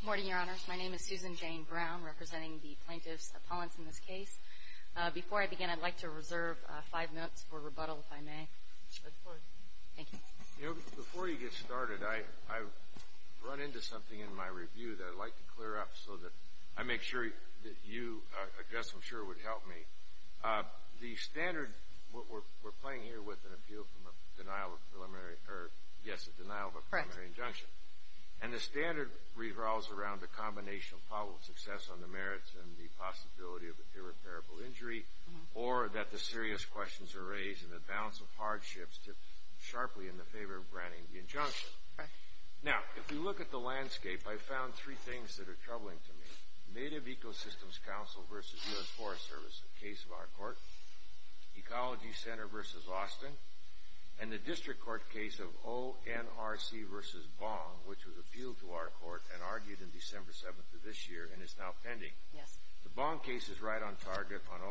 Good morning, Your Honors. My name is Susan Jane Brown, representing the plaintiffs' opponents in this case. Before I begin, I'd like to reserve five minutes for rebuttal, if I may. Of course. Thank you. You know, before you get started, I've run into something in my review that I'd like to clear up, so that I make sure that you, Jess, I'm sure, would help me. The standard we're playing here with an appeal from a denial of preliminary, or yes, a denial of a preliminary injunction. And the standard revolves around the combination of probable success on the merits and the possibility of irreparable injury, or that the serious questions are raised and the balance of hardships tip sharply in the favor of granting the injunction. Now, if we look at the landscape, I've found three things that are troubling to me. Native Ecosystems Council v. US Forest Service, a case of our court, Ecology Center v. Austin, and the District Court case of ONRC v. Bong, which was appealed to our court and argued in December 7th of this year, and is now pending. The Bong case is right on target on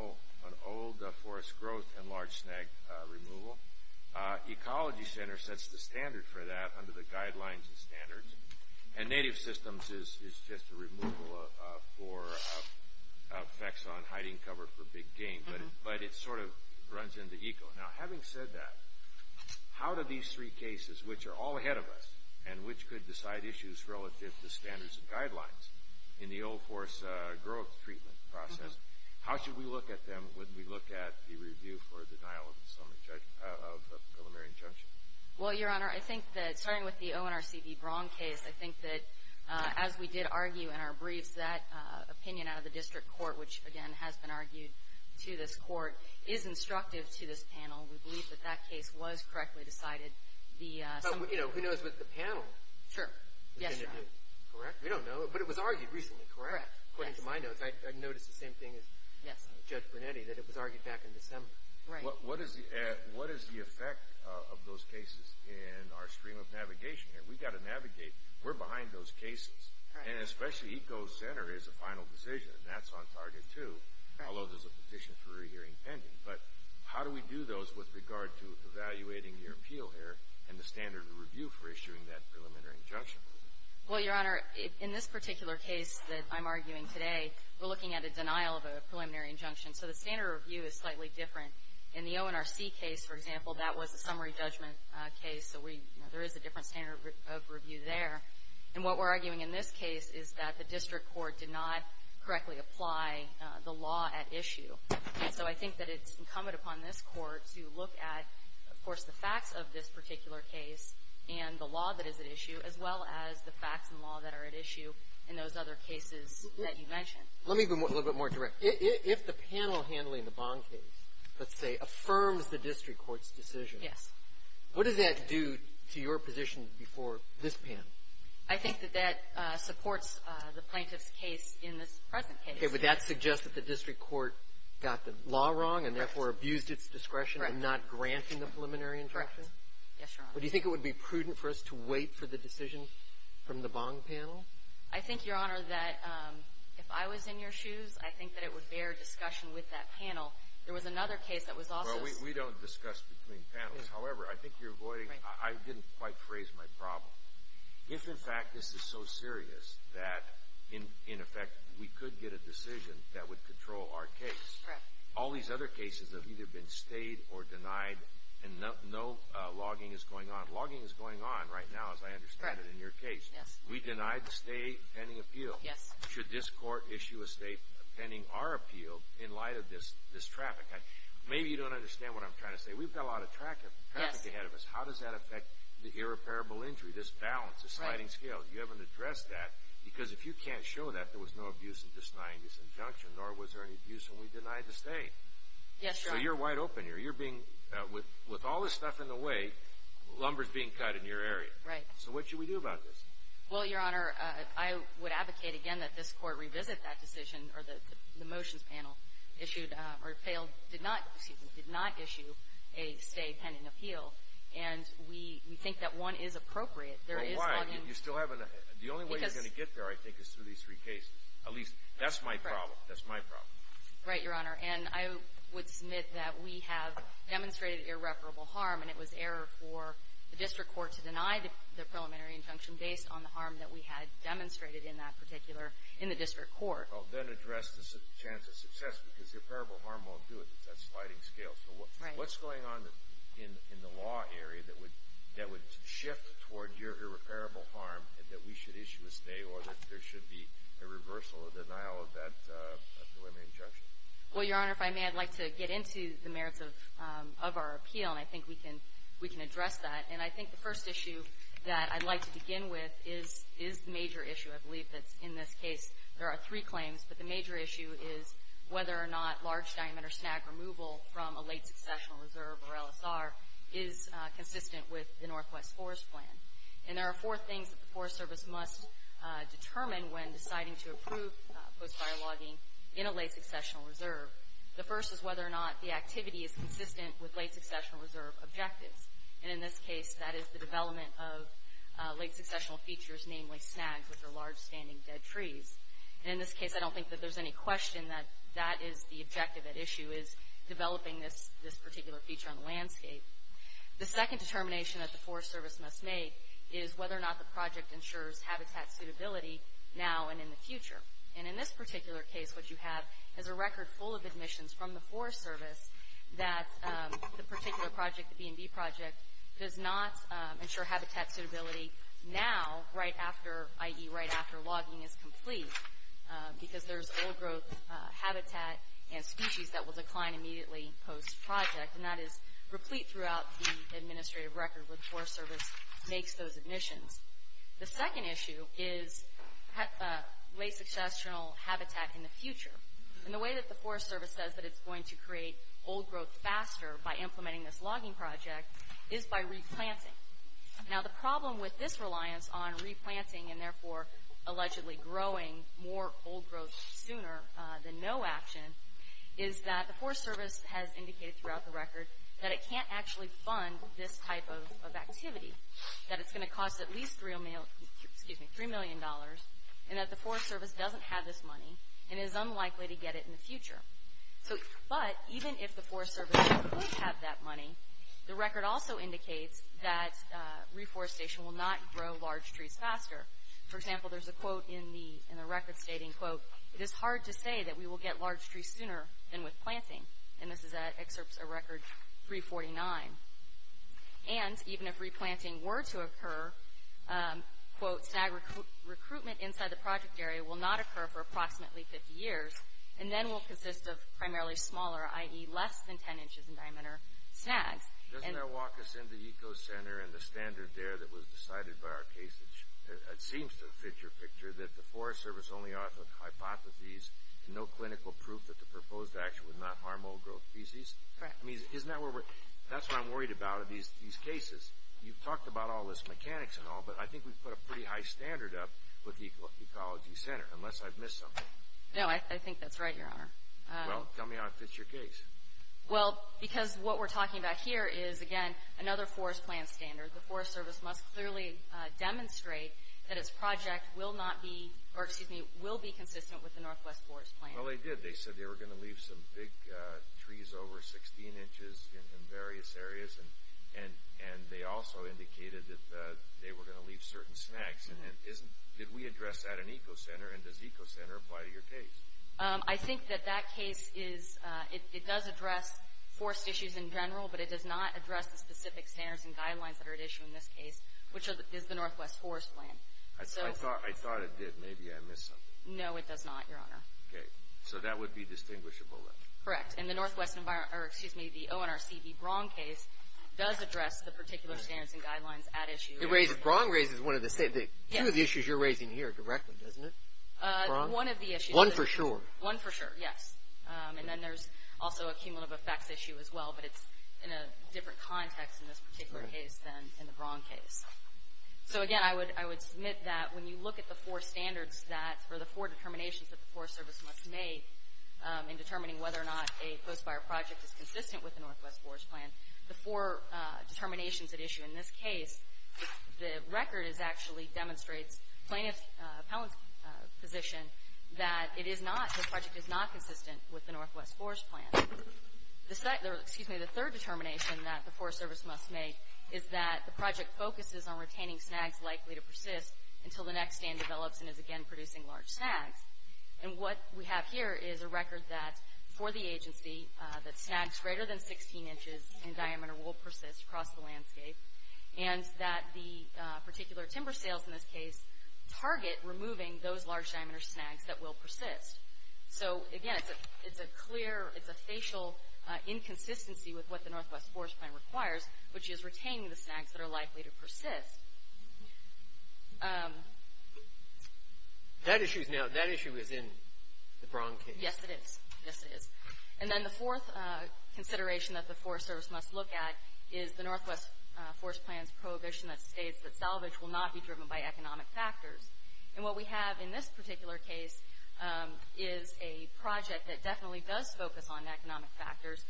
old forest growth and large snag removal. Ecology Center sets the standard for that under the guidelines and standards. And Native Systems is just a removal for effects on hiding cover for big game, but it sort of runs in the eco. Now, having said that, how do these three cases, which are all ahead of us, and which could decide issues relative to standards and guidelines in the old forest growth treatment process, how should we look at them when we look at the review for the denial of preliminary injunction? Well, Your Honor, I think that starting with the ONRC v. Bong case, I think that as we did argue in our briefs, that opinion out of the District Court, which, again, has been argued to this court, is instructive to this panel. We believe that that case was correctly decided. But, you know, who knows what the panel is going to do? Correct? We don't know. But it was argued recently, correct? Correct. According to my notes, I noticed the same thing as Judge Brunetti, that it was argued back in December. Right. So what is the effect of those cases in our stream of navigation here? We've got to navigate. We're behind those cases. Right. And especially Eco's center is a final decision, and that's on target, too, although there's a petition for a re-hearing pending. But how do we do those with regard to evaluating your appeal here and the standard of review for issuing that preliminary injunction? Well, Your Honor, in this particular case that I'm arguing today, we're looking at a denial of a preliminary injunction. So the standard of review is slightly different. In the ONRC case, for example, that was a summary judgment case. So there is a different standard of review there. And what we're arguing in this case is that the district court did not correctly apply the law at issue. So I think that it's incumbent upon this Court to look at, of course, the facts of this particular case and the law that is at issue, as well as the facts and law that are at issue in those other cases that you mentioned. Let me be a little bit more direct. If the panel handling the Bong case, let's say, affirms the district court's decision. Yes. What does that do to your position before this panel? I think that that supports the plaintiff's case in this present case. Okay. Would that suggest that the district court got the law wrong and therefore abused its discretion in not granting the preliminary injunction? Yes, Your Honor. Do you think it would be prudent for us to wait for the decision from the Bong panel? I think, Your Honor, that if I was in your shoes, I think that it would bear discussion with that panel. There was another case that was also ---- Well, we don't discuss between panels. However, I think you're avoiding ---- I didn't quite phrase my problem. If, in fact, this is so serious that, in effect, we could get a decision that would control our case, all these other cases have either been stayed or denied and no logging is going on. Logging is going on right now, as I understand it, in your case. Yes. We denied the stay pending appeal. Yes. Should this court issue a stay pending our appeal in light of this traffic? Maybe you don't understand what I'm trying to say. We've got a lot of traffic ahead of us. How does that affect the irreparable injury, this balance, this sliding scale? You haven't addressed that because if you can't show that there was no abuse in denying this injunction, nor was there any abuse when we denied the stay. Yes, Your Honor. So you're wide open here. With all this stuff in the way, lumber is being cut in your area. Right. So what should we do about this? Well, Your Honor, I would advocate, again, that this Court revisit that decision or the motions panel issued or failed, did not, excuse me, did not issue a stay pending appeal. And we think that one is appropriate. There is logging. Well, why? You still haven't. The only way you're going to get there, I think, is through these three cases. At least, that's my problem. That's my problem. Right, Your Honor. And I would submit that we have demonstrated irreparable harm, and it was error for the district court to deny the preliminary injunction based on the harm that we had demonstrated in that particular, in the district court. Well, then address the chance of success, because irreparable harm won't do it. It's that sliding scale. So what's going on in the law area that would shift toward irreparable harm and that we should issue a stay or that there should be a reversal or denial of that preliminary injunction? Well, Your Honor, if I may, I'd like to get into the merits of our appeal, and I think we can address that. And I think the first issue that I'd like to begin with is the major issue, I believe, that's in this case. There are three claims, but the major issue is whether or not large-diameter snag removal from a late-successional reserve or LSR is consistent with the Northwest Forest Plan. And there are four things that the Forest Service must determine when deciding to approve post-fire logging in a late-successional reserve. The first is whether or not the activity is consistent with late-successional reserve objectives. And in this case, that is the development of late-successional features, namely snags, which are large standing dead trees. And in this case, I don't think that there's any question that that is the objective at issue, is developing this particular feature on the landscape. The second determination that the Forest Service must make is whether or not the project ensures habitat suitability now and in the future. And in this particular case, what you have is a record full of admissions from the Forest Service that the particular project, the B&B project, does not ensure habitat suitability now, i.e., right after logging is complete, because there's old-growth habitat and species that will decline immediately post-project. And that is replete throughout the administrative record where the Forest Service makes those admissions. The second issue is late-successional habitat in the future. And the way that the Forest Service says that it's going to create old-growth faster by implementing this logging project is by replanting. Now, the problem with this reliance on replanting and therefore allegedly growing more old-growth sooner than no action is that the Forest Service has indicated throughout the record that it can't actually fund this type of activity, that it's going to cost at least $3 million, and that the Forest Service doesn't have this money and is unlikely to get it in the future. But even if the Forest Service does have that money, the record also indicates that reforestation will not grow large trees faster. For example, there's a quote in the record stating, quote, it is hard to say that we will get large trees sooner than with planting. And this excerpts a record 349. And even if replanting were to occur, quote, snag recruitment inside the project area will not occur for approximately 50 years and then will consist of primarily smaller, i.e. less than 10 inches in diameter, snags. Doesn't that walk us into ECO Center and the standard there that was decided by our case, that seems to fit your picture, that the Forest Service only offered hypotheses and no clinical proof that the proposed action would not harm old-growth species? Correct. I mean, isn't that where we're, that's what I'm worried about in these cases. You've talked about all this mechanics and all, but I think we've put a pretty high standard up with the Ecology Center, unless I've missed something. No, I think that's right, Your Honor. Well, tell me how it fits your case. Well, because what we're talking about here is, again, another forest plan standard. The Forest Service must clearly demonstrate that its project will not be, or excuse me, will be consistent with the Northwest Forest Plan. Well, they did. They said they were going to leave some big trees over 16 inches in various areas, and they also indicated that they were going to leave certain snags. Did we address that in ECO Center, and does ECO Center apply to your case? I think that that case is, it does address forest issues in general, but it does not address the specific standards and guidelines that are at issue in this case, which is the Northwest Forest Plan. I thought it did. Maybe I missed something. No, it does not, Your Honor. Okay. So that would be distinguishable, then? Correct. Because in the Northwest environment, or excuse me, the ONRC v. Braun case does address the particular standards and guidelines at issue. Braun raises one of the issues you're raising here directly, doesn't it? One of the issues. One for sure. One for sure, yes. And then there's also a cumulative effects issue as well, but it's in a different context in this particular case than in the Braun case. So, again, I would submit that when you look at the four standards for the four determinations that the Forest Service must make in determining whether or not a post-fire project is consistent with the Northwest Forest Plan, the four determinations at issue in this case, the record actually demonstrates plaintiff's position that it is not, the project is not consistent with the Northwest Forest Plan. The third determination that the Forest Service must make is that the project focuses on retaining snags likely to persist until the next stand develops and is again producing large snags. And what we have here is a record that, for the agency, that snags greater than 16 inches in diameter will persist across the landscape, and that the particular timber sales in this case target removing those large diameter snags that will persist. So, again, it's a clear, it's a facial inconsistency with what the Northwest Forest Plan requires, which is retaining the snags that are likely to persist. That issue is now, that issue is in the Braun case. Yes, it is. Yes, it is. And then the fourth consideration that the Forest Service must look at is the Northwest Forest Plan's prohibition that states that salvage will not be driven by economic factors. And what we have in this particular case is a project that definitely does focus on economic factors.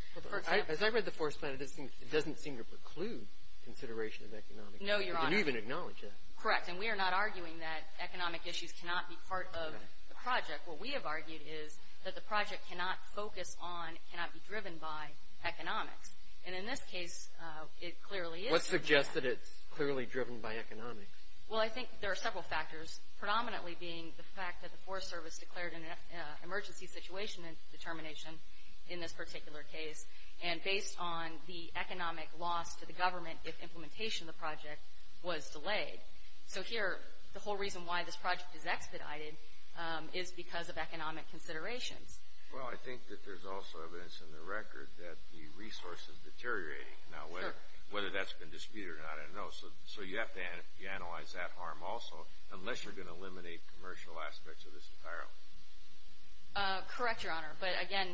As I read the Forest Plan, it doesn't seem to preclude consideration of economic factors. No, Your Honor. It didn't even acknowledge that. Correct, and we are not arguing that economic issues cannot be part of the project. What we have argued is that the project cannot focus on, cannot be driven by economics. And in this case, it clearly is. What suggests that it's clearly driven by economics? Well, I think there are several factors, predominantly being the fact that the Forest Service declared an emergency situation determination in this particular case, and based on the economic loss to the government if implementation of the project was delayed. So here, the whole reason why this project is expedited is because of economic considerations. Well, I think that there's also evidence in the record that the resource is deteriorating. Now, whether that's been disputed or not, I don't know. So you have to analyze that harm also, unless you're going to eliminate commercial aspects of this environment. Correct, Your Honor. But again,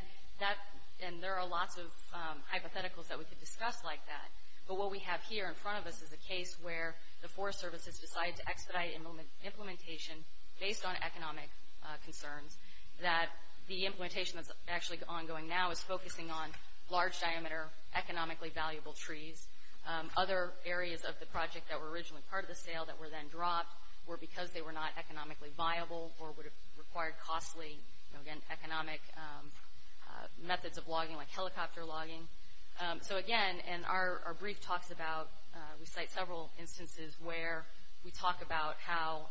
there are lots of hypotheticals that we could discuss like that. But what we have here in front of us is a case where the Forest Service has decided to expedite implementation based on economic concerns, that the implementation that's actually ongoing now is focusing on large diameter, economically valuable trees. Other areas of the project that were originally part of the sale that were then dropped were because they were not economically viable or would have required costly, again, economic methods of logging like helicopter logging. So again, and our brief talks about, we cite several instances where we talk about how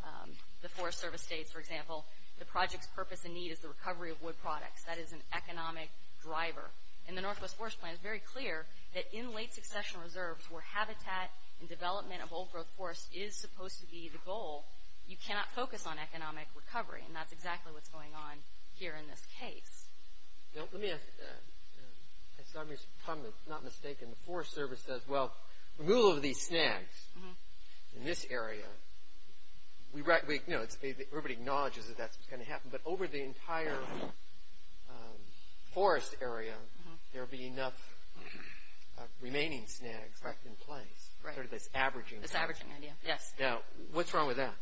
the Forest Service states, for example, the project's purpose and need is the recovery of wood products. That is an economic driver. And the Northwest Forest Plan is very clear that in late succession reserves where habitat and development of old-growth forests is supposed to be the goal, you cannot focus on economic recovery. And that's exactly what's going on here in this case. Now, let me ask, if I'm not mistaken, the Forest Service says, well, removal of these snags in this area, you know, everybody acknowledges that that's going to happen, but over the entire forest area, there will be enough remaining snags left in place, sort of this averaging. This averaging idea, yes. Now, what's wrong with that?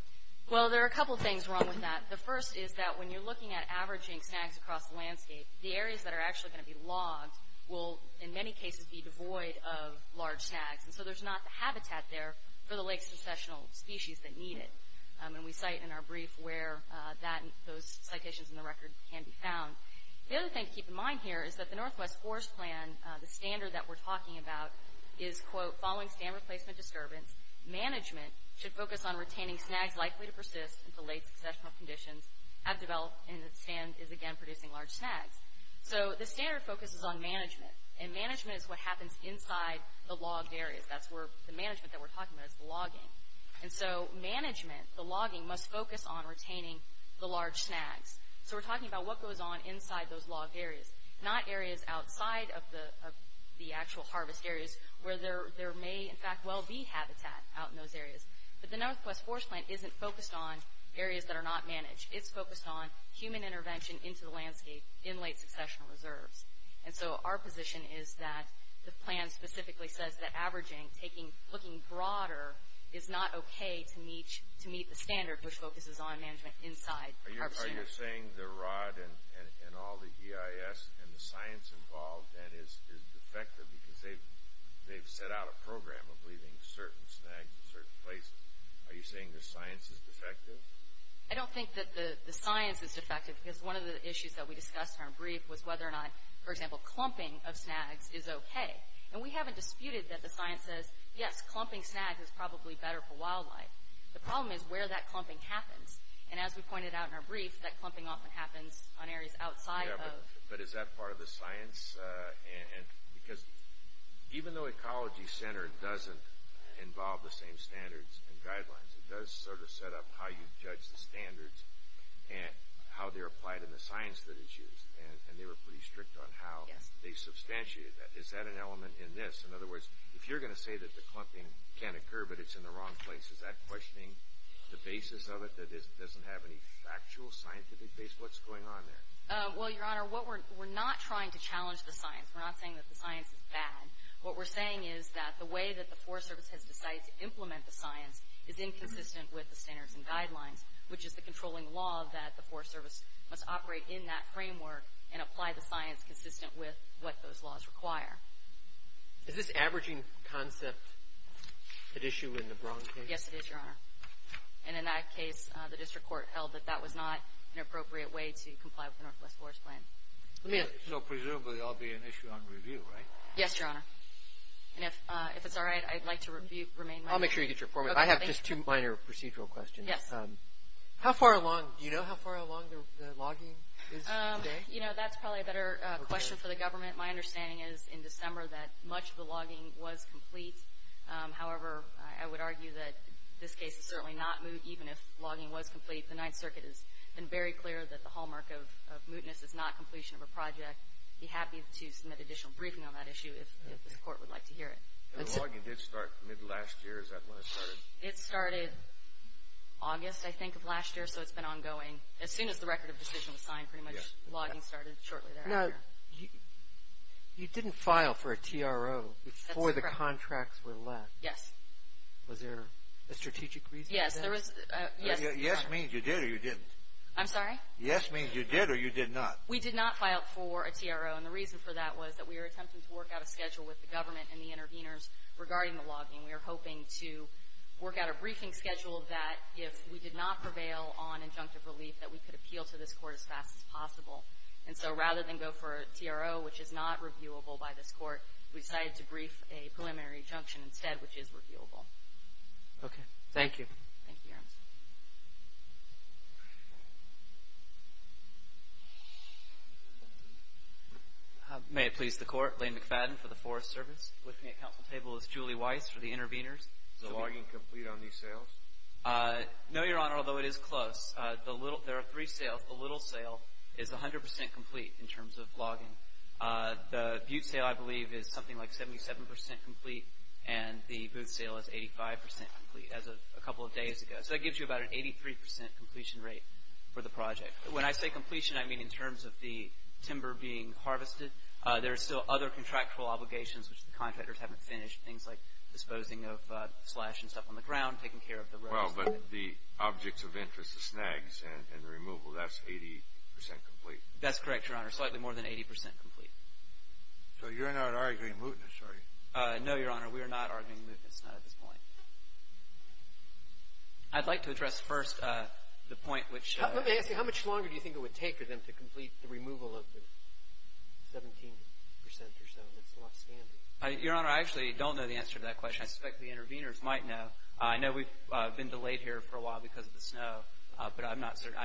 Well, there are a couple things wrong with that. The first is that when you're looking at averaging snags across the landscape, the areas that are actually going to be logged will, in many cases, be devoid of large snags. And so there's not the habitat there for the late successional species that need it. And we cite in our brief where those citations in the record can be found. The other thing to keep in mind here is that the Northwest Forest Plan, the standard that we're talking about is, quote, following stand replacement disturbance, management should focus on retaining snags likely to persist until late successional conditions have developed and the stand is again producing large snags. So the standard focuses on management. And management is what happens inside the logged areas. That's where the management that we're talking about is the logging. And so management, the logging, must focus on retaining the large snags. So we're talking about what goes on inside those logged areas, not areas outside of the actual harvest areas where there may, in fact, well be habitat out in those areas. But the Northwest Forest Plan isn't focused on areas that are not managed. It's focused on human intervention into the landscape in late successional reserves. And so our position is that the plan specifically says that averaging, looking broader, is not okay to meet the standard, which focuses on management inside the harvest areas. Are you saying the rod and all the EIS and the science involved then is defective because they've set out a program of leaving certain snags in certain places? Are you saying the science is defective? I don't think that the science is defective because one of the issues that we discussed in our brief was whether or not, for example, clumping of snags is okay. And we haven't disputed that the science says, yes, clumping snags is probably better for wildlife. The problem is where that clumping happens. And as we pointed out in our brief, that clumping often happens on areas outside of... Yeah, but is that part of the science? Because even though Ecology Center doesn't involve the same standards and guidelines, it does sort of set up how you judge the standards and how they're applied in the science that is used. And they were pretty strict on how they substantiated that. Is that an element in this? In other words, if you're going to say that the clumping can occur but it's in the wrong place, is that questioning the basis of it that doesn't have any factual scientific base? What's going on there? Well, Your Honor, we're not trying to challenge the science. We're not saying that the science is bad. What we're saying is that the way that the Forest Service has decided to implement the science is inconsistent with the standards and guidelines, which is the controlling law that the Forest Service must operate in that framework and apply the science consistent with what those laws require. Is this averaging concept at issue in the Braun case? Yes, it is, Your Honor. And in that case, the district court held that that was not an appropriate way to comply with the Northwest Forest Plan. So presumably there will be an issue on review, right? Yes, Your Honor. And if it's all right, I'd like to remain my... I'll make sure you get your form. I have just two minor procedural questions. Yes. How far along? Do you know how far along the logging is today? You know, that's probably a better question for the government. My understanding is in December that much of the logging was complete. However, I would argue that this case is certainly not moot, even if logging was complete. The Ninth Circuit has been very clear that the hallmark of mootness is not completion of a project. I'd be happy to submit additional briefing on that issue if the court would like to hear it. The logging did start mid last year. Is that when it started? It started August, I think, of last year, so it's been ongoing. As soon as the record of decision was signed, pretty much logging started shortly thereafter. Now, you didn't file for a TRO before the contracts were left. Yes. Was there a strategic reason for that? Yes. Yes means you did or you didn't. I'm sorry? Yes means you did or you did not. We did not file for a TRO, and the reason for that was that we were attempting to work out a schedule with the government and the interveners regarding the logging. We were hoping to work out a briefing schedule that, if we did not prevail on injunctive relief, that we could appeal to this court as fast as possible. And so rather than go for a TRO, which is not reviewable by this court, we decided to brief a preliminary injunction instead, which is reviewable. Okay. Thank you. Thank you, Your Honor. May it please the Court. Lane McFadden for the Forest Service. With me at council table is Julie Weiss for the interveners. Is the logging complete on these sales? No, Your Honor, although it is close. There are three sales. The little sale is 100 percent complete in terms of logging. The butte sale, I believe, is something like 77 percent complete, and the booth sale is 85 percent complete as of a couple of days ago. So that gives you about an 83 percent completion rate for the project. When I say completion, I mean in terms of the timber being harvested. There are still other contractual obligations, which the contractors haven't finished, things like disposing of slash and stuff on the ground, taking care of the roads. Well, but the objects of interest, the snags and the removal, that's 80 percent complete. That's correct, Your Honor. Slightly more than 80 percent complete. So you're not arguing mootness, are you? No, Your Honor. We are not arguing mootness, not at this point. I'd like to address first the point which — Let me ask you, how much longer do you think it would take for them to complete the removal of the 17 percent or so? That's a lot of scanty. Your Honor, I actually don't know the answer to that question. I suspect the interveners might know. I know we've been delayed here for a while because of the snow, but I'm not certain.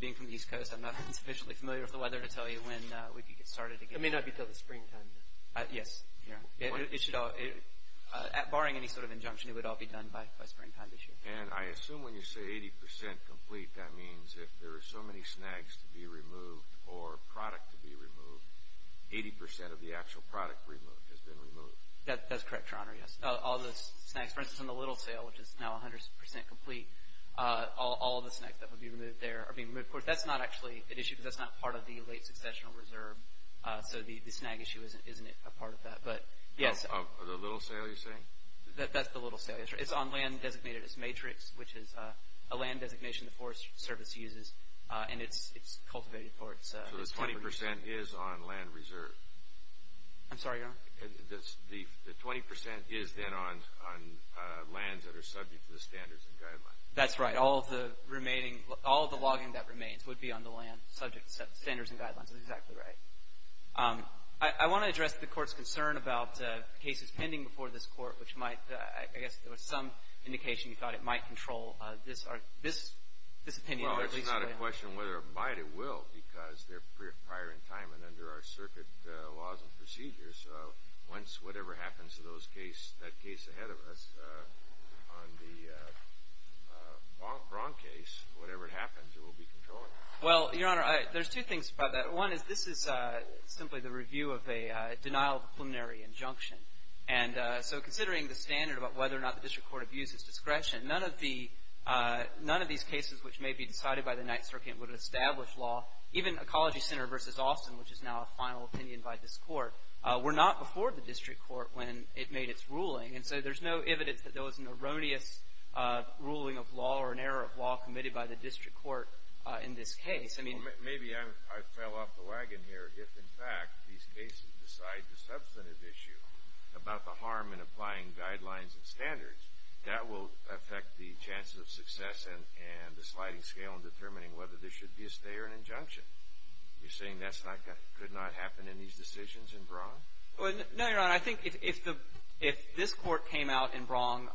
Being from the East Coast, I'm not sufficiently familiar with the weather to tell you when we can get started again. It may not be until the springtime, then. Yes. Barring any sort of injunction, it would all be done by springtime this year. And I assume when you say 80 percent complete, that means if there are so many snags to be removed or product to be removed, 80 percent of the actual product removed has been removed. That's correct, Your Honor, yes. All the snags, for instance, in the Littlesale, which is now 100 percent complete, all the snags that would be removed there are being removed. Of course, that's not actually an issue because that's not part of the late successional reserve, so the snag issue isn't a part of that. The Littlesale, you're saying? That's the Littlesale. It's on land designated as matrix, which is a land designation the Forest Service uses, and it's cultivated for its temperate reserve. So the 20 percent is on land reserve. I'm sorry, Your Honor? The 20 percent is then on lands that are subject to the standards and guidelines. That's right. All of the logging that remains would be on the land subject to standards and guidelines. That's exactly right. I want to address the Court's concern about cases pending before this Court, which might, I guess, there was some indication you thought it might control this opinion. Well, it's not a question whether or not it will because they're prior in time and under our circuit laws and procedures. Once whatever happens to that case ahead of us on the Braun case, whatever happens, it will be controlled. Well, Your Honor, there's two things about that. One is this is simply the review of a denial of a preliminary injunction. And so considering the standard about whether or not the district court abuses discretion, none of these cases which may be decided by the Ninth Circuit would establish law. Even Ecology Center v. Austin, which is now a final opinion by this Court, were not before the district court when it made its ruling. And so there's no evidence that there was an erroneous ruling of law or an error of law committed by the district court in this case. Maybe I fell off the wagon here. If, in fact, these cases decide the substantive issue about the harm in applying guidelines and standards, that will affect the chances of success and the sliding scale in determining whether there should be a stay or an injunction. You're saying that could not happen in these decisions in Braun? No, Your Honor. I think if this Court came out in Braun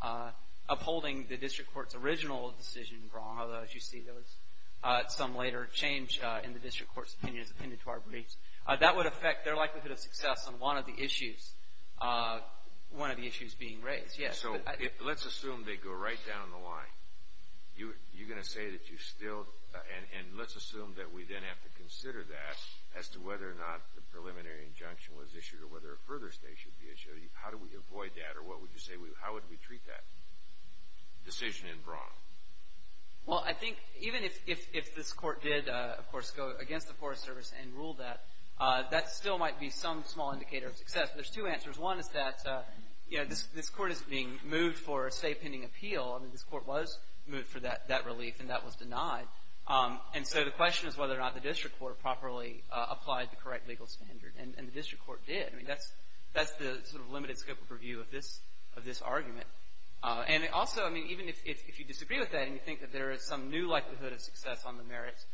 upholding the district court's original decision in Braun, although, as you see, there was some later change in the district court's opinion as appended to our briefs, that would affect their likelihood of success on one of the issues being raised, yes. So let's assume they go right down the line. You're going to say that you still – and let's assume that we then have to consider that as to whether or not the preliminary injunction was issued or whether a further stay should be issued. How do we avoid that, or what would you say – how would we treat that decision in Braun? Well, I think even if this Court did, of course, go against the Forest Service and rule that, that still might be some small indicator of success. There's two answers. One is that, you know, this Court is being moved for a stay pending appeal. I mean, this Court was moved for that relief, and that was denied. And so the question is whether or not the district court properly applied the correct legal standard. And the district court did. I mean, that's the sort of limited scope of review of this argument. And also, I mean, even if you disagree with that and you think that there is some new likelihood of success on the merits,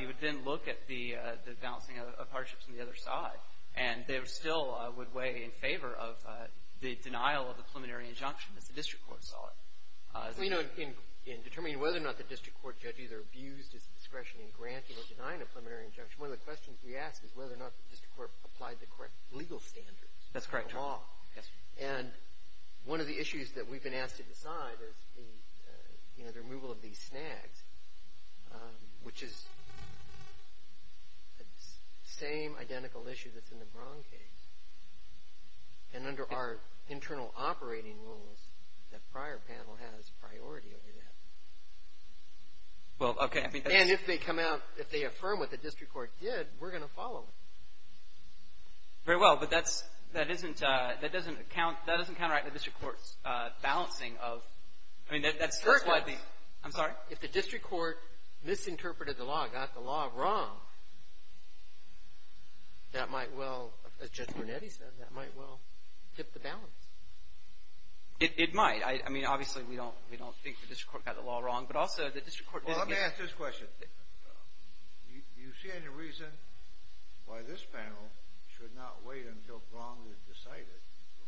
you would then look at the balancing of hardships on the other side, and they still would weigh in favor of the denial of the preliminary injunction, as the district court saw it. Well, you know, in determining whether or not the district court judge either abused his discretion in granting or denying a preliminary injunction, one of the questions we ask is whether or not the district court applied the correct legal standards. That's correct. And one of the issues that we've been asked to decide is, you know, the removal of these snags, which is the same identical issue that's in the Braun case. And under our internal operating rules, that prior panel has priority over that. Well, okay. And if they come out, if they affirm what the district court did, we're going to follow it. Very well. But that doesn't count right in the district court's balancing of – I mean, that's why the – I'm sorry? If the district court misinterpreted the law, got the law wrong, that might well – as Judge Burnetti said, that might well tip the balance. It might. I mean, obviously, we don't think the district court got the law wrong, but also the district court – Well, let me ask this question. Do you see any reason why this panel should not wait until Braun is decided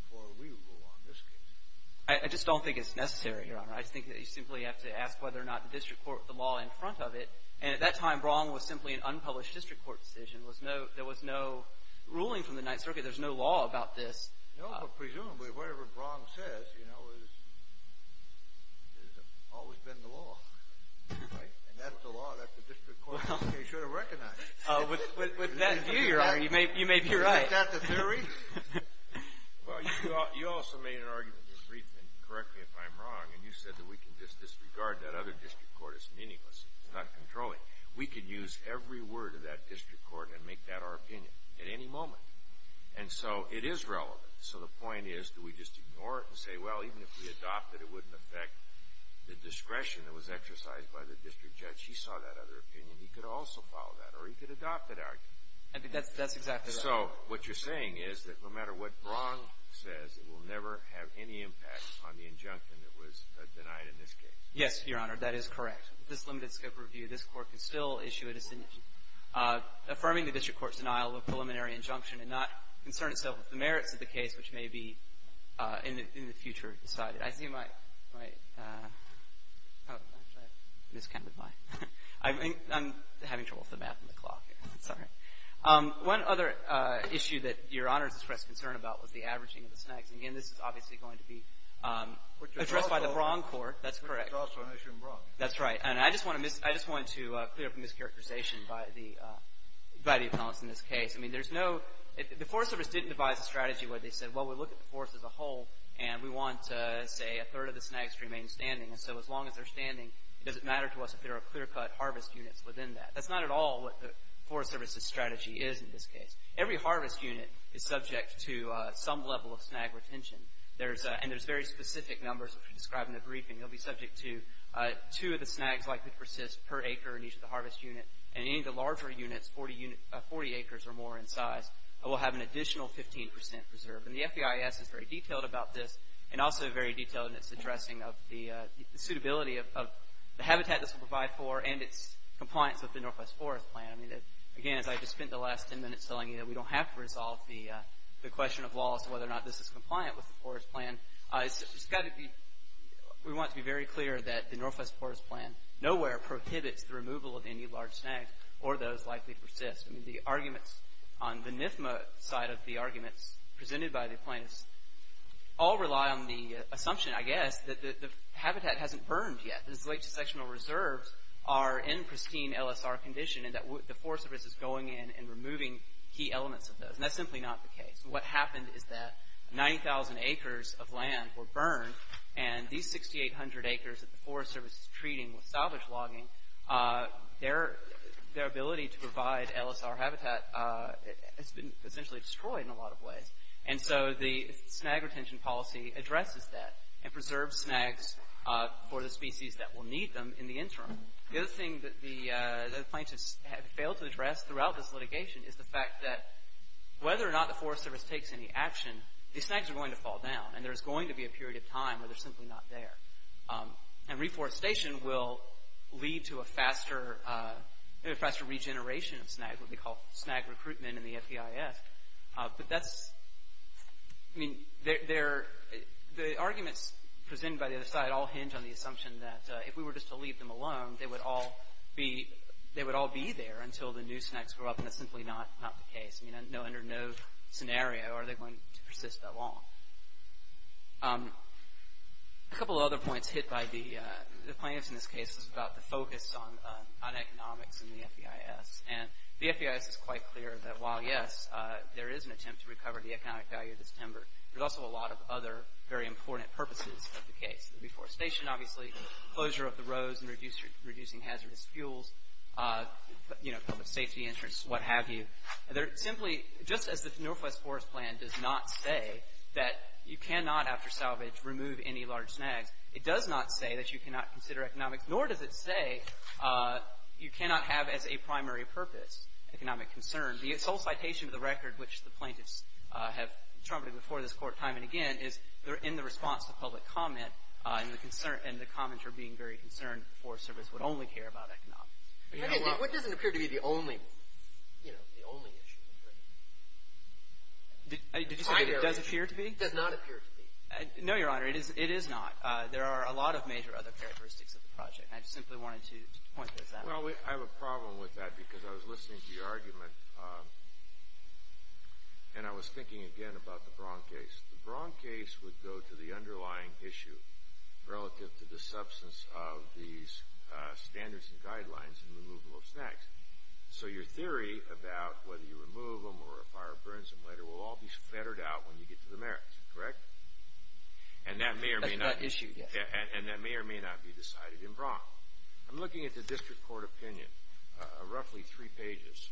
before we rule on this case? I just don't think it's necessary, Your Honor. I just think that you simply have to ask whether or not the district court put the law in front of it. And at that time, Braun was simply an unpublished district court decision. There was no ruling from the Ninth Circuit. There's no law about this. No, but presumably, whatever Braun says, you know, has always been the law, right? And that's the law that the district court should have recognized. With that view, Your Honor, you may be right. Is that the theory? Well, you also made an argument just briefly, and correct me if I'm wrong, and you said that we can just disregard that other district court. It's meaningless. It's not controlling. We could use every word of that district court and make that our opinion at any moment. And so it is relevant. So the point is do we just ignore it and say, well, even if we adopt it, it wouldn't affect the discretion that was exercised by the district judge. He saw that other opinion. He could also follow that, or he could adopt that argument. I think that's exactly right. So what you're saying is that no matter what Braun says, it will never have any impact on the injunction that was denied in this case. Yes, Your Honor. That is correct. With this limited scope of review, this Court can still issue a decision affirming the district court's denial of a preliminary injunction and not concern itself with the merits of the case, which may be in the future decided. I see my – actually, I miscounted mine. I'm having trouble with the map and the clock. Sorry. One other issue that Your Honor has expressed concern about was the averaging of the snags. Again, this is obviously going to be addressed by the Braun court. That's correct. It's also an issue in Braun. That's right. And I just want to clear up a mischaracterization by the panelists in this case. I mean, there's no – the Forest Service didn't devise a strategy where they said, well, we look at the forest as a whole and we want, say, a third of the snags to remain standing. And so as long as they're standing, it doesn't matter to us if there are clear-cut harvest units within that. That's not at all what the Forest Service's strategy is in this case. Every harvest unit is subject to some level of snag retention. And there's very specific numbers, which are described in the briefing. You'll be subject to two of the snags likely to persist per acre in each of the harvest units. And any of the larger units, 40 acres or more in size, will have an additional 15 percent preserved. And the FBIS is very detailed about this and also very detailed in its addressing of the suitability of the habitat this will provide for and its compliance with the Northwest Forest Plan. I mean, again, as I just spent the last 10 minutes telling you, we don't have to resolve the question of law as to whether or not this is compliant with the Forest Plan. It's got to be – we want to be very clear that the Northwest Forest Plan nowhere prohibits the removal of any large snags or those likely to persist. I mean, the arguments on the NIFMA side of the arguments presented by the plaintiffs all rely on the assumption, I guess, that the habitat hasn't burned yet, that its late dissectional reserves are in pristine LSR condition and that the Forest Service is going in and removing key elements of those. And that's simply not the case. What happened is that 90,000 acres of land were burned and these 6,800 acres that the Forest Service is treating with salvage logging, their ability to provide LSR habitat has been essentially destroyed in a lot of ways. And so the snag retention policy addresses that and preserves snags for the species that will need them in the interim. The other thing that the plaintiffs have failed to address throughout this litigation is the fact that whether or not the Forest Service takes any action, these snags are going to fall down and there's going to be a period of time where they're simply not there. And reforestation will lead to a faster regeneration of snag, what we call snag recruitment in the FEIS. The arguments presented by the other side all hinge on the assumption that if we were just to leave them alone, they would all be there until the new snags grow up, and that's simply not the case. Under no scenario are they going to persist that long. A couple of other points hit by the plaintiffs in this case is about the focus on economics in the FEIS. And the FEIS is quite clear that while, yes, there is an attempt to recover the economic value of this timber, there's also a lot of other very important purposes of the case. Reforestation, obviously, closure of the roads and reducing hazardous fuels, public safety insurance, what have you. Just as the Northwest Forest Plan does not say that you cannot, after salvage, remove any large snags, it does not say that you cannot consider economics, nor does it say you cannot have as a primary purpose economic concern. The sole citation of the record, which the plaintiffs have trumpeted before this court time and again, is in the response to public comment, and the comments are being very concerned that the Forest Service would only care about economics. What doesn't appear to be the only issue? Did you say it does appear to be? It does not appear to be. No, Your Honor, it is not. There are a lot of major other characteristics of the project, and I just simply wanted to point those out. Well, I have a problem with that because I was listening to your argument, and I was thinking again about the Braun case. The Braun case would go to the underlying issue relative to the substance of these standards and guidelines in removal of snags. So your theory about whether you remove them or a fire burns them later will all be fettered out when you get to the merits, correct? That's not issued yet. And that may or may not be decided in Braun. I'm looking at the district court opinion, roughly three pages.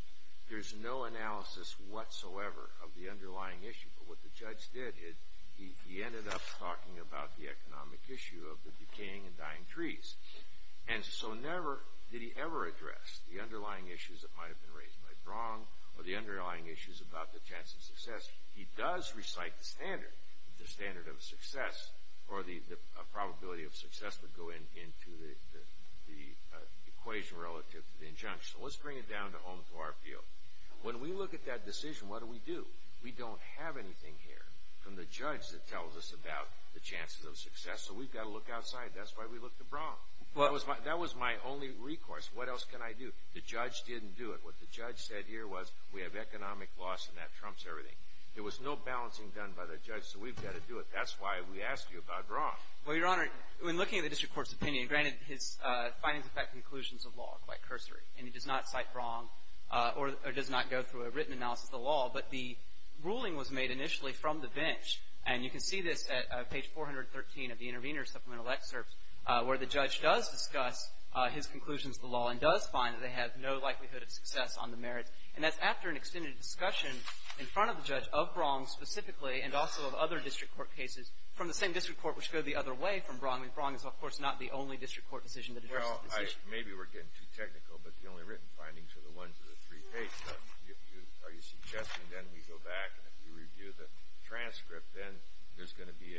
There's no analysis whatsoever of the underlying issue, but what the judge did is he ended up talking about the economic issue of the decaying and dying trees. And so never did he ever address the underlying issues that might have been raised by Braun or the underlying issues about the chance of success. He does recite the standard, the standard of success, or the probability of success would go into the equation relative to the injunction. Let's bring it down to home floor appeal. When we look at that decision, what do we do? We don't have anything here from the judge that tells us about the chances of success, so we've got to look outside. That's why we looked at Braun. That was my only recourse. What else can I do? The judge didn't do it. What the judge said here was we have economic loss, and that trumps everything. There was no balancing done by the judge, so we've got to do it. That's why we asked you about Braun. Well, Your Honor, when looking at the district court's opinion, granted his findings affect conclusions of law quite cursory, and he does not cite Braun or does not go through a written analysis of the law, but the ruling was made initially from the bench, and you can see this at page 413 of the intervener's supplemental excerpt where the judge does discuss his conclusions of the law and does find that they have no likelihood of success on the merits, and that's after an extended discussion in front of the judge of Braun specifically and also of other district court cases from the same district court which go the other way from Braun, and Braun is, of course, not the only district court decision that addresses this issue. Well, maybe we're getting too technical, but the only written findings are the ones in the three pages. Are you suggesting then we go back and if we review the transcript, then there's going to be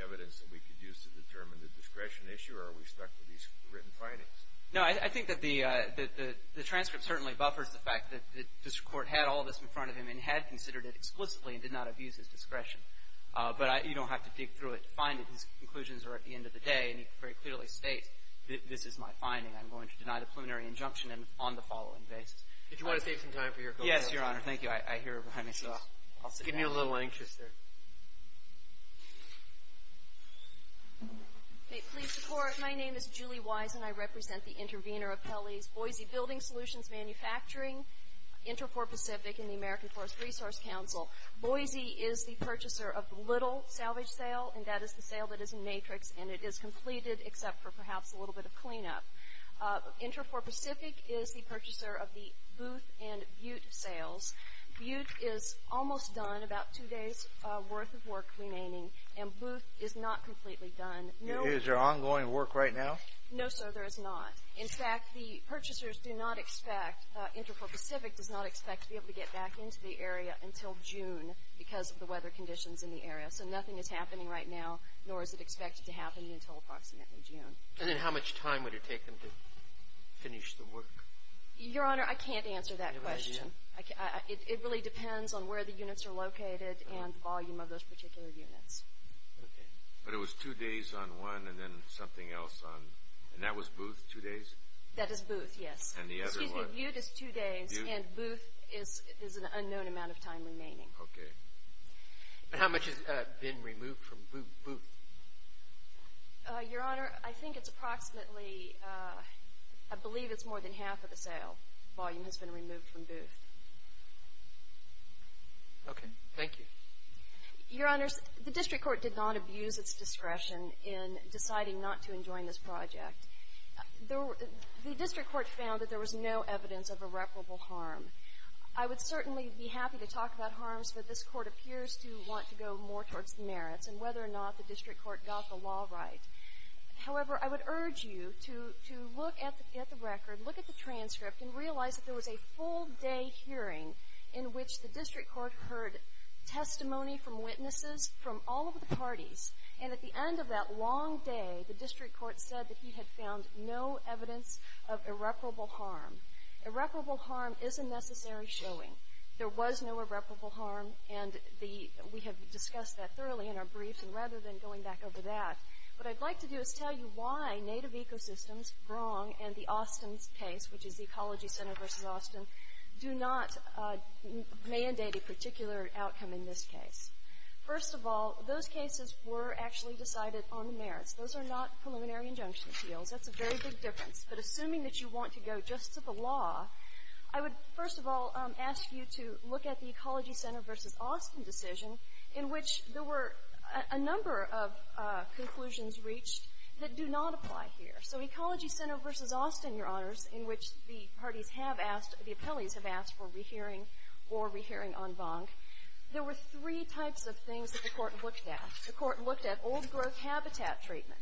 evidence that we could use to determine the discretion issue, or are we stuck with these written findings? No. I think that the transcript certainly buffers the fact that the district court had all this in front of him and had considered it explicitly and did not abuse his discretion, but you don't have to dig through it to find it. His conclusions are at the end of the day, and he very clearly states, this is my finding. I'm going to deny the preliminary injunction on the following basis. Did you want to save some time for your colleague? Yes, Your Honor. Thank you. I hear her behind me, so I'll sit down. Give me a little anxious there. Please support. My name is Julie Wise, and I represent the intervener of Pelley's Boise Building Solutions Manufacturing, Interport Pacific, and the American Forest Resource Council. Boise is the purchaser of the Little salvage sale, and that is the sale that is in matrix, and it is completed except for perhaps a little bit of cleanup. Interport Pacific is the purchaser of the Booth and Butte sales. Butte is almost done, about two days' worth of work remaining, and Booth is not completely done. Is there ongoing work right now? No, sir, there is not. In fact, the purchasers do not expect, Interport Pacific does not expect to be able to get back into the area until June because of the weather conditions in the area. So nothing is happening right now, nor is it expected to happen until approximately June. And then how much time would it take them to finish the work? Your Honor, I can't answer that question. You have an idea? It really depends on where the units are located and the volume of those particular units. Okay. But it was two days on one and then something else on, and that was Booth, two days? That is Booth, yes. And the other one? Excuse me, Butte is two days, and Booth is an unknown amount of time remaining. Okay. And how much has been removed from Booth? Your Honor, I think it's approximately, I believe it's more than half of the sale volume has been removed from Booth. Okay. Thank you. Your Honors, the district court did not abuse its discretion in deciding not to enjoin this project. The district court found that there was no evidence of irreparable harm. I would certainly be happy to talk about harms, but this court appears to want to go more towards the merits and whether or not the district court got the law right. However, I would urge you to look at the record, look at the transcript, and realize that there was a full day hearing in which the district court heard testimony from witnesses from all of the parties. And at the end of that long day, the district court said that he had found no evidence of irreparable harm. Irreparable harm is a necessary showing. There was no irreparable harm, and we have discussed that thoroughly in our briefs. And rather than going back over that, what I'd like to do is tell you why Native Ecosystems, Brong, and the Austin case, which is the Ecology Center versus Austin, do not mandate a particular outcome in this case. First of all, those cases were actually decided on the merits. Those are not preliminary injunction appeals. That's a very big difference. But assuming that you want to go just to the law, I would, first of all, ask you to look at the Ecology Center versus Austin decision, in which there were a number of conclusions reached that do not apply here. So Ecology Center versus Austin, Your Honors, in which the parties have asked, the appellees have asked for rehearing or rehearing en banc, there were three types of things that the court looked at. The court looked at old-growth habitat treatment.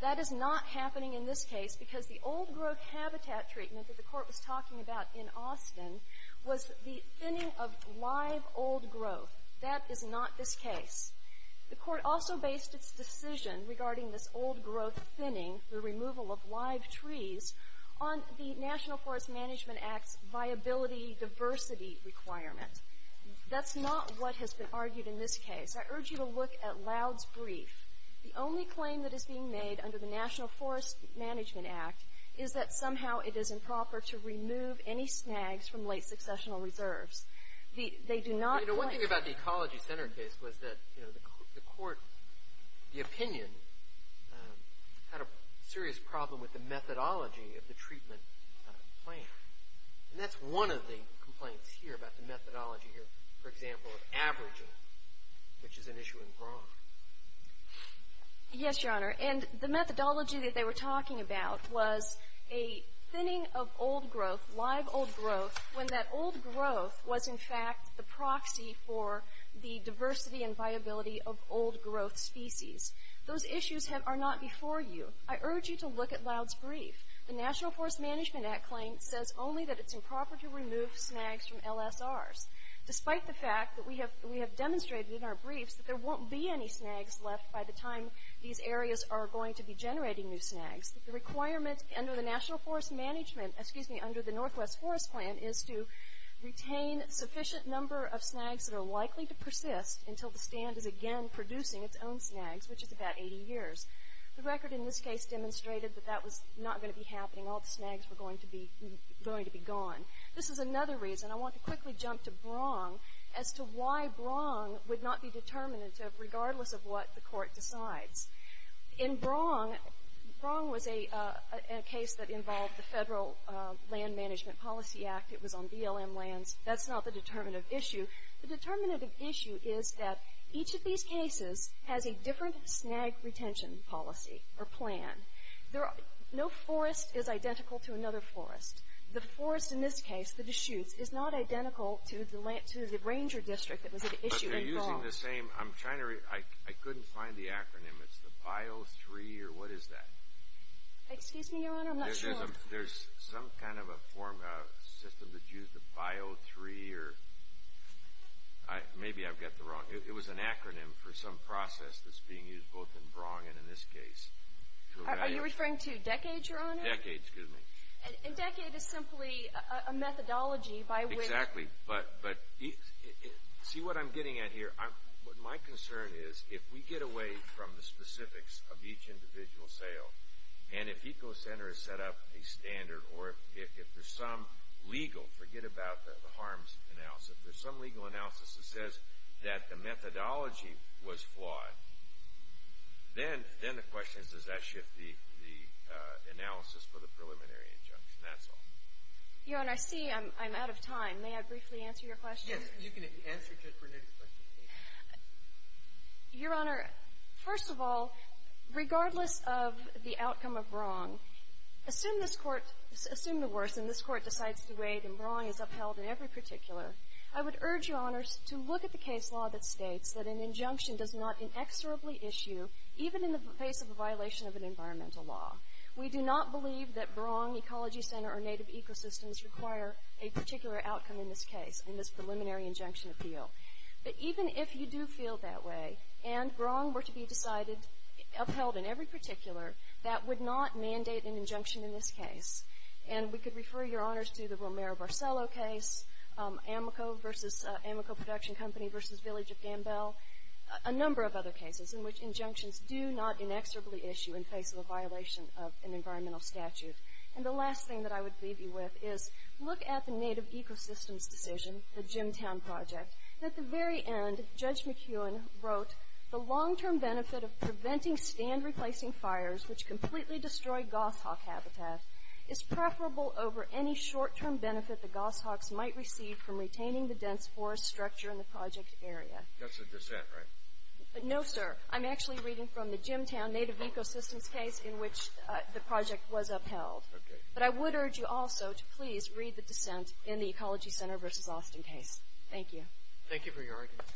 That is not happening in this case because the old-growth habitat treatment that the court was talking about in Austin was the thinning of live old-growth. That is not this case. The court also based its decision regarding this old-growth thinning, the removal of live trees, on the National Forest Management Act's viability diversity requirement. That's not what has been argued in this case. I urge you to look at Loud's brief. The only claim that is being made under the National Forest Management Act is that somehow it is improper to remove any snags from late successional reserves. They do not claim that. One thing about the Ecology Center case was that the court, the opinion, had a serious problem with the methodology of the treatment plan. And that's one of the complaints here about the methodology here, for example, of averaging, which is an issue in Bronx. Yes, Your Honor. And the methodology that they were talking about was a thinning of old-growth, live old-growth, when that old-growth was, in fact, the proxy for the diversity and viability of old-growth species. Those issues are not before you. I urge you to look at Loud's brief. The National Forest Management Act claim says only that it's improper to remove snags from LSRs. Despite the fact that we have demonstrated in our briefs that there won't be any snags left by the time these areas are going to be generating new snags, the requirement under the National Forest Management, excuse me, under the Northwest Forest Plan is to retain sufficient number of snags that are likely to persist until the stand is again producing its own snags, which is about 80 years. The record in this case demonstrated that that was not going to be happening. All the snags were going to be gone. This is another reason. I want to quickly jump to Bronx as to why Bronx would not be determinative, regardless of what the Court decides. In Bronx, Bronx was a case that involved the Federal Land Management Policy Act. It was on BLM lands. That's not the determinative issue. The determinative issue is that each of these cases has a different snag retention policy or plan. No forest is identical to another forest. The forest in this case, the Deschutes, is not identical to the ranger district that was at issue in Bronx. But they're using the same, I'm trying to, I couldn't find the acronym. It's the BIO3 or what is that? Excuse me, Your Honor, I'm not sure. There's some kind of a system that used the BIO3 or, maybe I've got the wrong, it was an acronym for some process that's being used both in Bronx and in this case. Are you referring to DECADE, Your Honor? DECADE, excuse me. And DECADE is simply a methodology by which. Exactly. But see what I'm getting at here? My concern is if we get away from the specifics of each individual sale, and if ECO Center has set up a standard or if there's some legal, forget about the harms analysis, if there's some legal analysis that says that the methodology was flawed, then the question is does that shift the analysis for the preliminary injunction. That's all. Your Honor, I see I'm out of time. May I briefly answer your question? Yes. You can answer just for next question, please. Your Honor, first of all, regardless of the outcome of Bronx, assume the worse and this Court decides to wait and Bronx is upheld in every particular, I would urge Your Honors to look at the case law that states that an injunction does not inexorably issue, even in the face of a violation of an environmental law. We do not believe that Bronx Ecology Center or Native Ecosystems require a particular outcome in this case, in this preliminary injunction appeal. But even if you do feel that way and Bronx were to be decided, upheld in every particular, that would not mandate an injunction in this case. And we could refer Your Honors to the Romero-Barcello case, Amoco production company versus Village of Gambell, a number of other cases in which injunctions do not inexorably issue in face of a violation of an environmental statute. And the last thing that I would leave you with is look at the Native Ecosystems decision, the Jimtown Project. At the very end, Judge McEwen wrote, the long-term benefit of preventing stand-replacing fires, which completely destroy goshawk habitat, is preferable over any short-term benefit the goshawks might receive from retaining the dense forest structure in the project area. That's a dissent, right? No, sir. I'm actually reading from the Jimtown Native Ecosystems case in which the project was upheld. Okay. But I would urge you also to please read the dissent in the Ecology Center versus Austin case. Thank you. Thank you for your argument.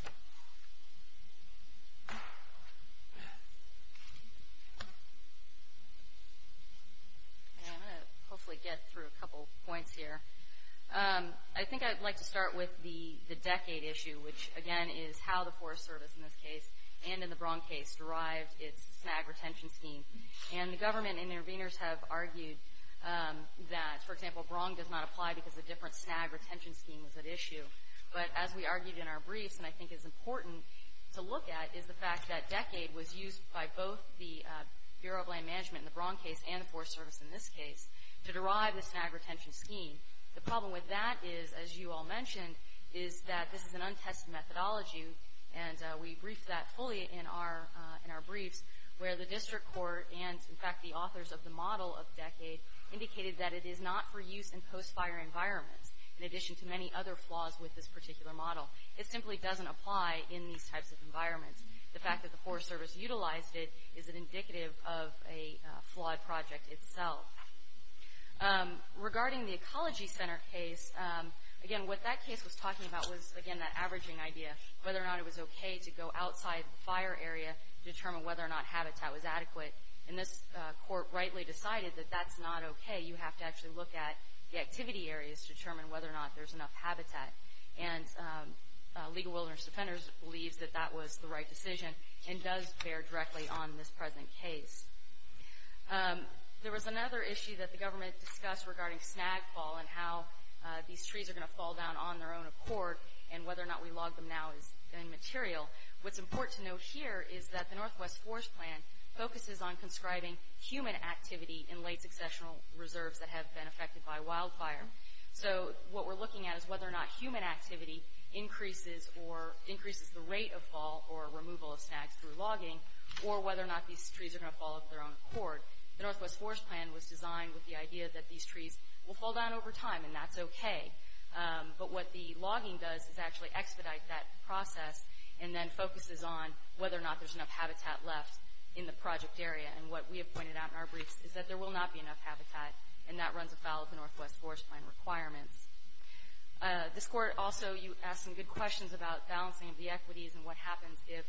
I'm going to hopefully get through a couple points here. I think I'd like to start with the decade issue, which, again, is how the Forest Service, in this case, and in the Braun case, derived its snag retention scheme. And the government interveners have argued that, for example, Braun does not apply because a different snag retention scheme is at issue. But as we argued in our briefs, and I think it's important to look at, is the fact that decade was used by both the Bureau of Land Management in the Braun case and the Forest Service in this case to derive the snag retention scheme. The problem with that is, as you all mentioned, is that this is an untested methodology, and we briefed that fully in our briefs, where the district court and, in fact, the authors of the model of decade indicated that it is not for use in post-fire environments, in addition to many other flaws with this particular model. It simply doesn't apply in these types of environments. The fact that the Forest Service utilized it is indicative of a flawed project itself. Regarding the Ecology Center case, again, what that case was talking about was, again, that averaging idea. Whether or not it was okay to go outside the fire area to determine whether or not habitat was adequate. And this court rightly decided that that's not okay. You have to actually look at the activity areas to determine whether or not there's enough habitat. And Legal Wilderness Defenders believes that that was the right decision and does bear directly on this present case. There was another issue that the government discussed regarding snag fall and how these trees are going to fall down on their own accord, and whether or not we log them now is immaterial. What's important to note here is that the Northwest Forest Plan focuses on conscribing human activity in late successional reserves that have been affected by wildfire. So what we're looking at is whether or not human activity increases the rate of fall or removal of snags through logging, or whether or not these trees are going to fall of their own accord. The Northwest Forest Plan was designed with the idea that these trees will fall down over time, and that's okay. But what the logging does is actually expedite that process and then focuses on whether or not there's enough habitat left in the project area. And what we have pointed out in our briefs is that there will not be enough habitat, and that runs afoul of the Northwest Forest Plan requirements. This court also asked some good questions about balancing of the equities and what happens if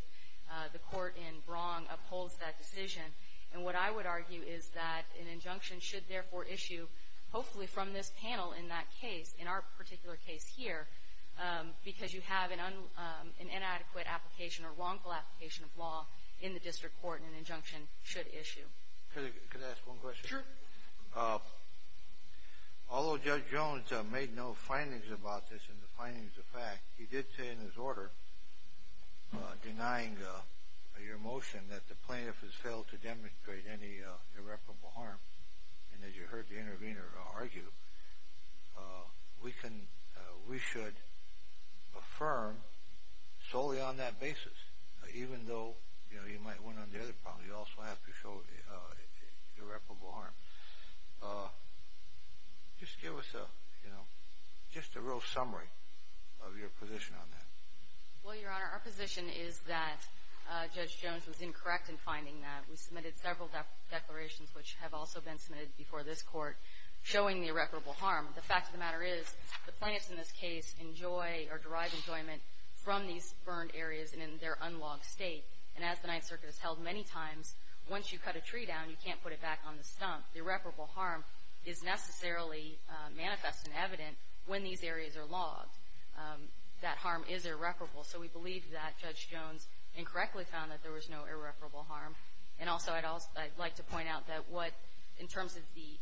the court in Brong upholds that decision. And what I would argue is that an injunction should therefore issue, hopefully from this panel in that case, in our particular case here, because you have an inadequate application or wrongful application of law in the district court, an injunction should issue. Could I ask one question? Sure. Although Judge Jones made no findings about this and the findings are fact, he did say in his order denying your motion that the plaintiff has failed to demonstrate any irreparable harm. And as you heard the intervener argue, we should affirm solely on that basis, even though you might win on the other problem. You also have to show irreparable harm. Just give us a real summary of your position on that. Well, Your Honor, our position is that Judge Jones was incorrect in finding that. We submitted several declarations, which have also been submitted before this court, showing the irreparable harm. The fact of the matter is the plaintiffs in this case enjoy or derive enjoyment from these burned areas and in their unlogged state. And as the Ninth Circuit has held many times, once you cut a tree down, you can't put it back on the stump. The irreparable harm is necessarily manifest and evident when these areas are logged. That harm is irreparable. So we believe that Judge Jones incorrectly found that there was no irreparable harm. And also I'd like to point out that what, in terms of the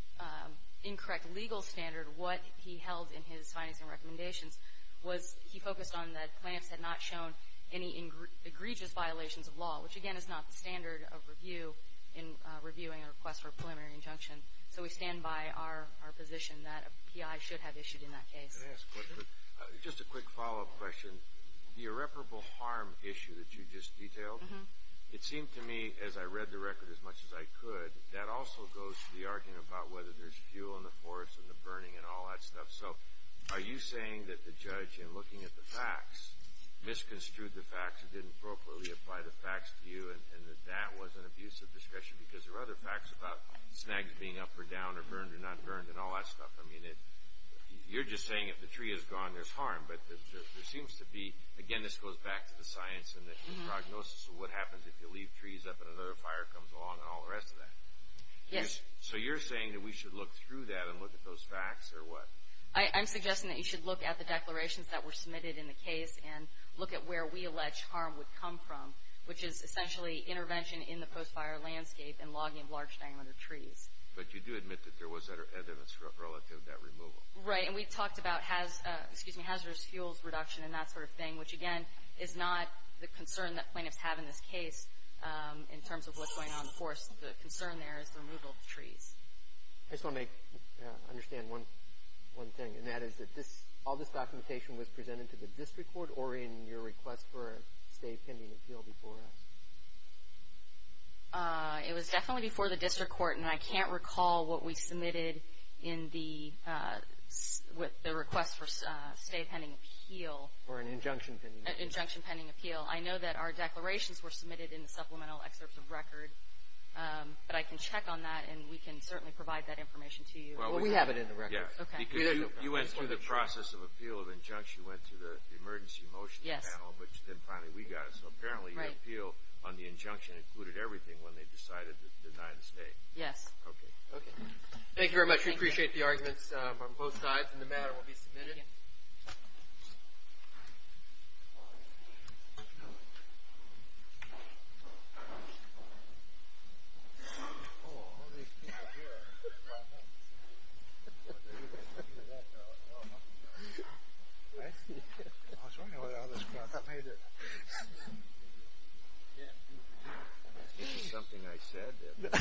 incorrect legal standard, what he held in his findings and recommendations was he focused on that plaintiffs had not shown any egregious violations of law, which, again, is not the standard of review in reviewing a request for a preliminary injunction. So we stand by our position that a PI should have issued in that case. Just a quick follow-up question. The irreparable harm issue that you just detailed, it seemed to me, as I read the record as much as I could, that also goes to the argument about whether there's fuel in the forest and the burning and all that stuff. So are you saying that the judge, in looking at the facts, misconstrued the facts and didn't appropriately apply the facts to you and that that was an abusive discussion because there were other facts about snags being up or down or burned or not burned and all that stuff? I mean, you're just saying if the tree is gone, there's harm. But there seems to be, again, this goes back to the science and the prognosis of what happens if you leave trees up and another fire comes along and all the rest of that. Yes. So you're saying that we should look through that and look at those facts or what? I'm suggesting that you should look at the declarations that were submitted in the case and look at where we allege harm would come from, which is essentially intervention in the post-fire landscape and logging of large-diameter trees. But you do admit that there was evidence relative to that removal. Right. And we talked about hazardous fuels reduction and that sort of thing, which again is not the concern that plaintiffs have in this case in terms of what's going on in the forest. The concern there is the removal of the trees. I just want to understand one thing, and that is that all this documentation was presented to the district court or in your request for a stay pending appeal before us? It was definitely before the district court, and I can't recall what we submitted in the request for a stay pending appeal. Or an injunction pending appeal. An injunction pending appeal. I know that our declarations were submitted in the supplemental excerpt of record, but I can check on that and we can certainly provide that information to you. Well, we have it in the record. You went through the process of appeal of injunction, went through the emergency motion panel, which then finally we got it. So apparently the appeal on the injunction included everything when they decided to deny the stay. Yes. Okay. Thank you very much. We appreciate the arguments from both sides, and the matter will be submitted. This is something I said. Can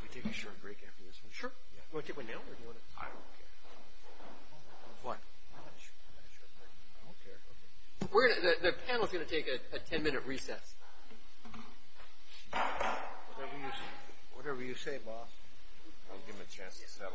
we take a short break after this one? Sure. Do you want to take one now or do you want to? I don't care. What? I don't care. The panel is going to take a ten-minute recess. Whatever you say, boss. I'll give them a chance to settle out there.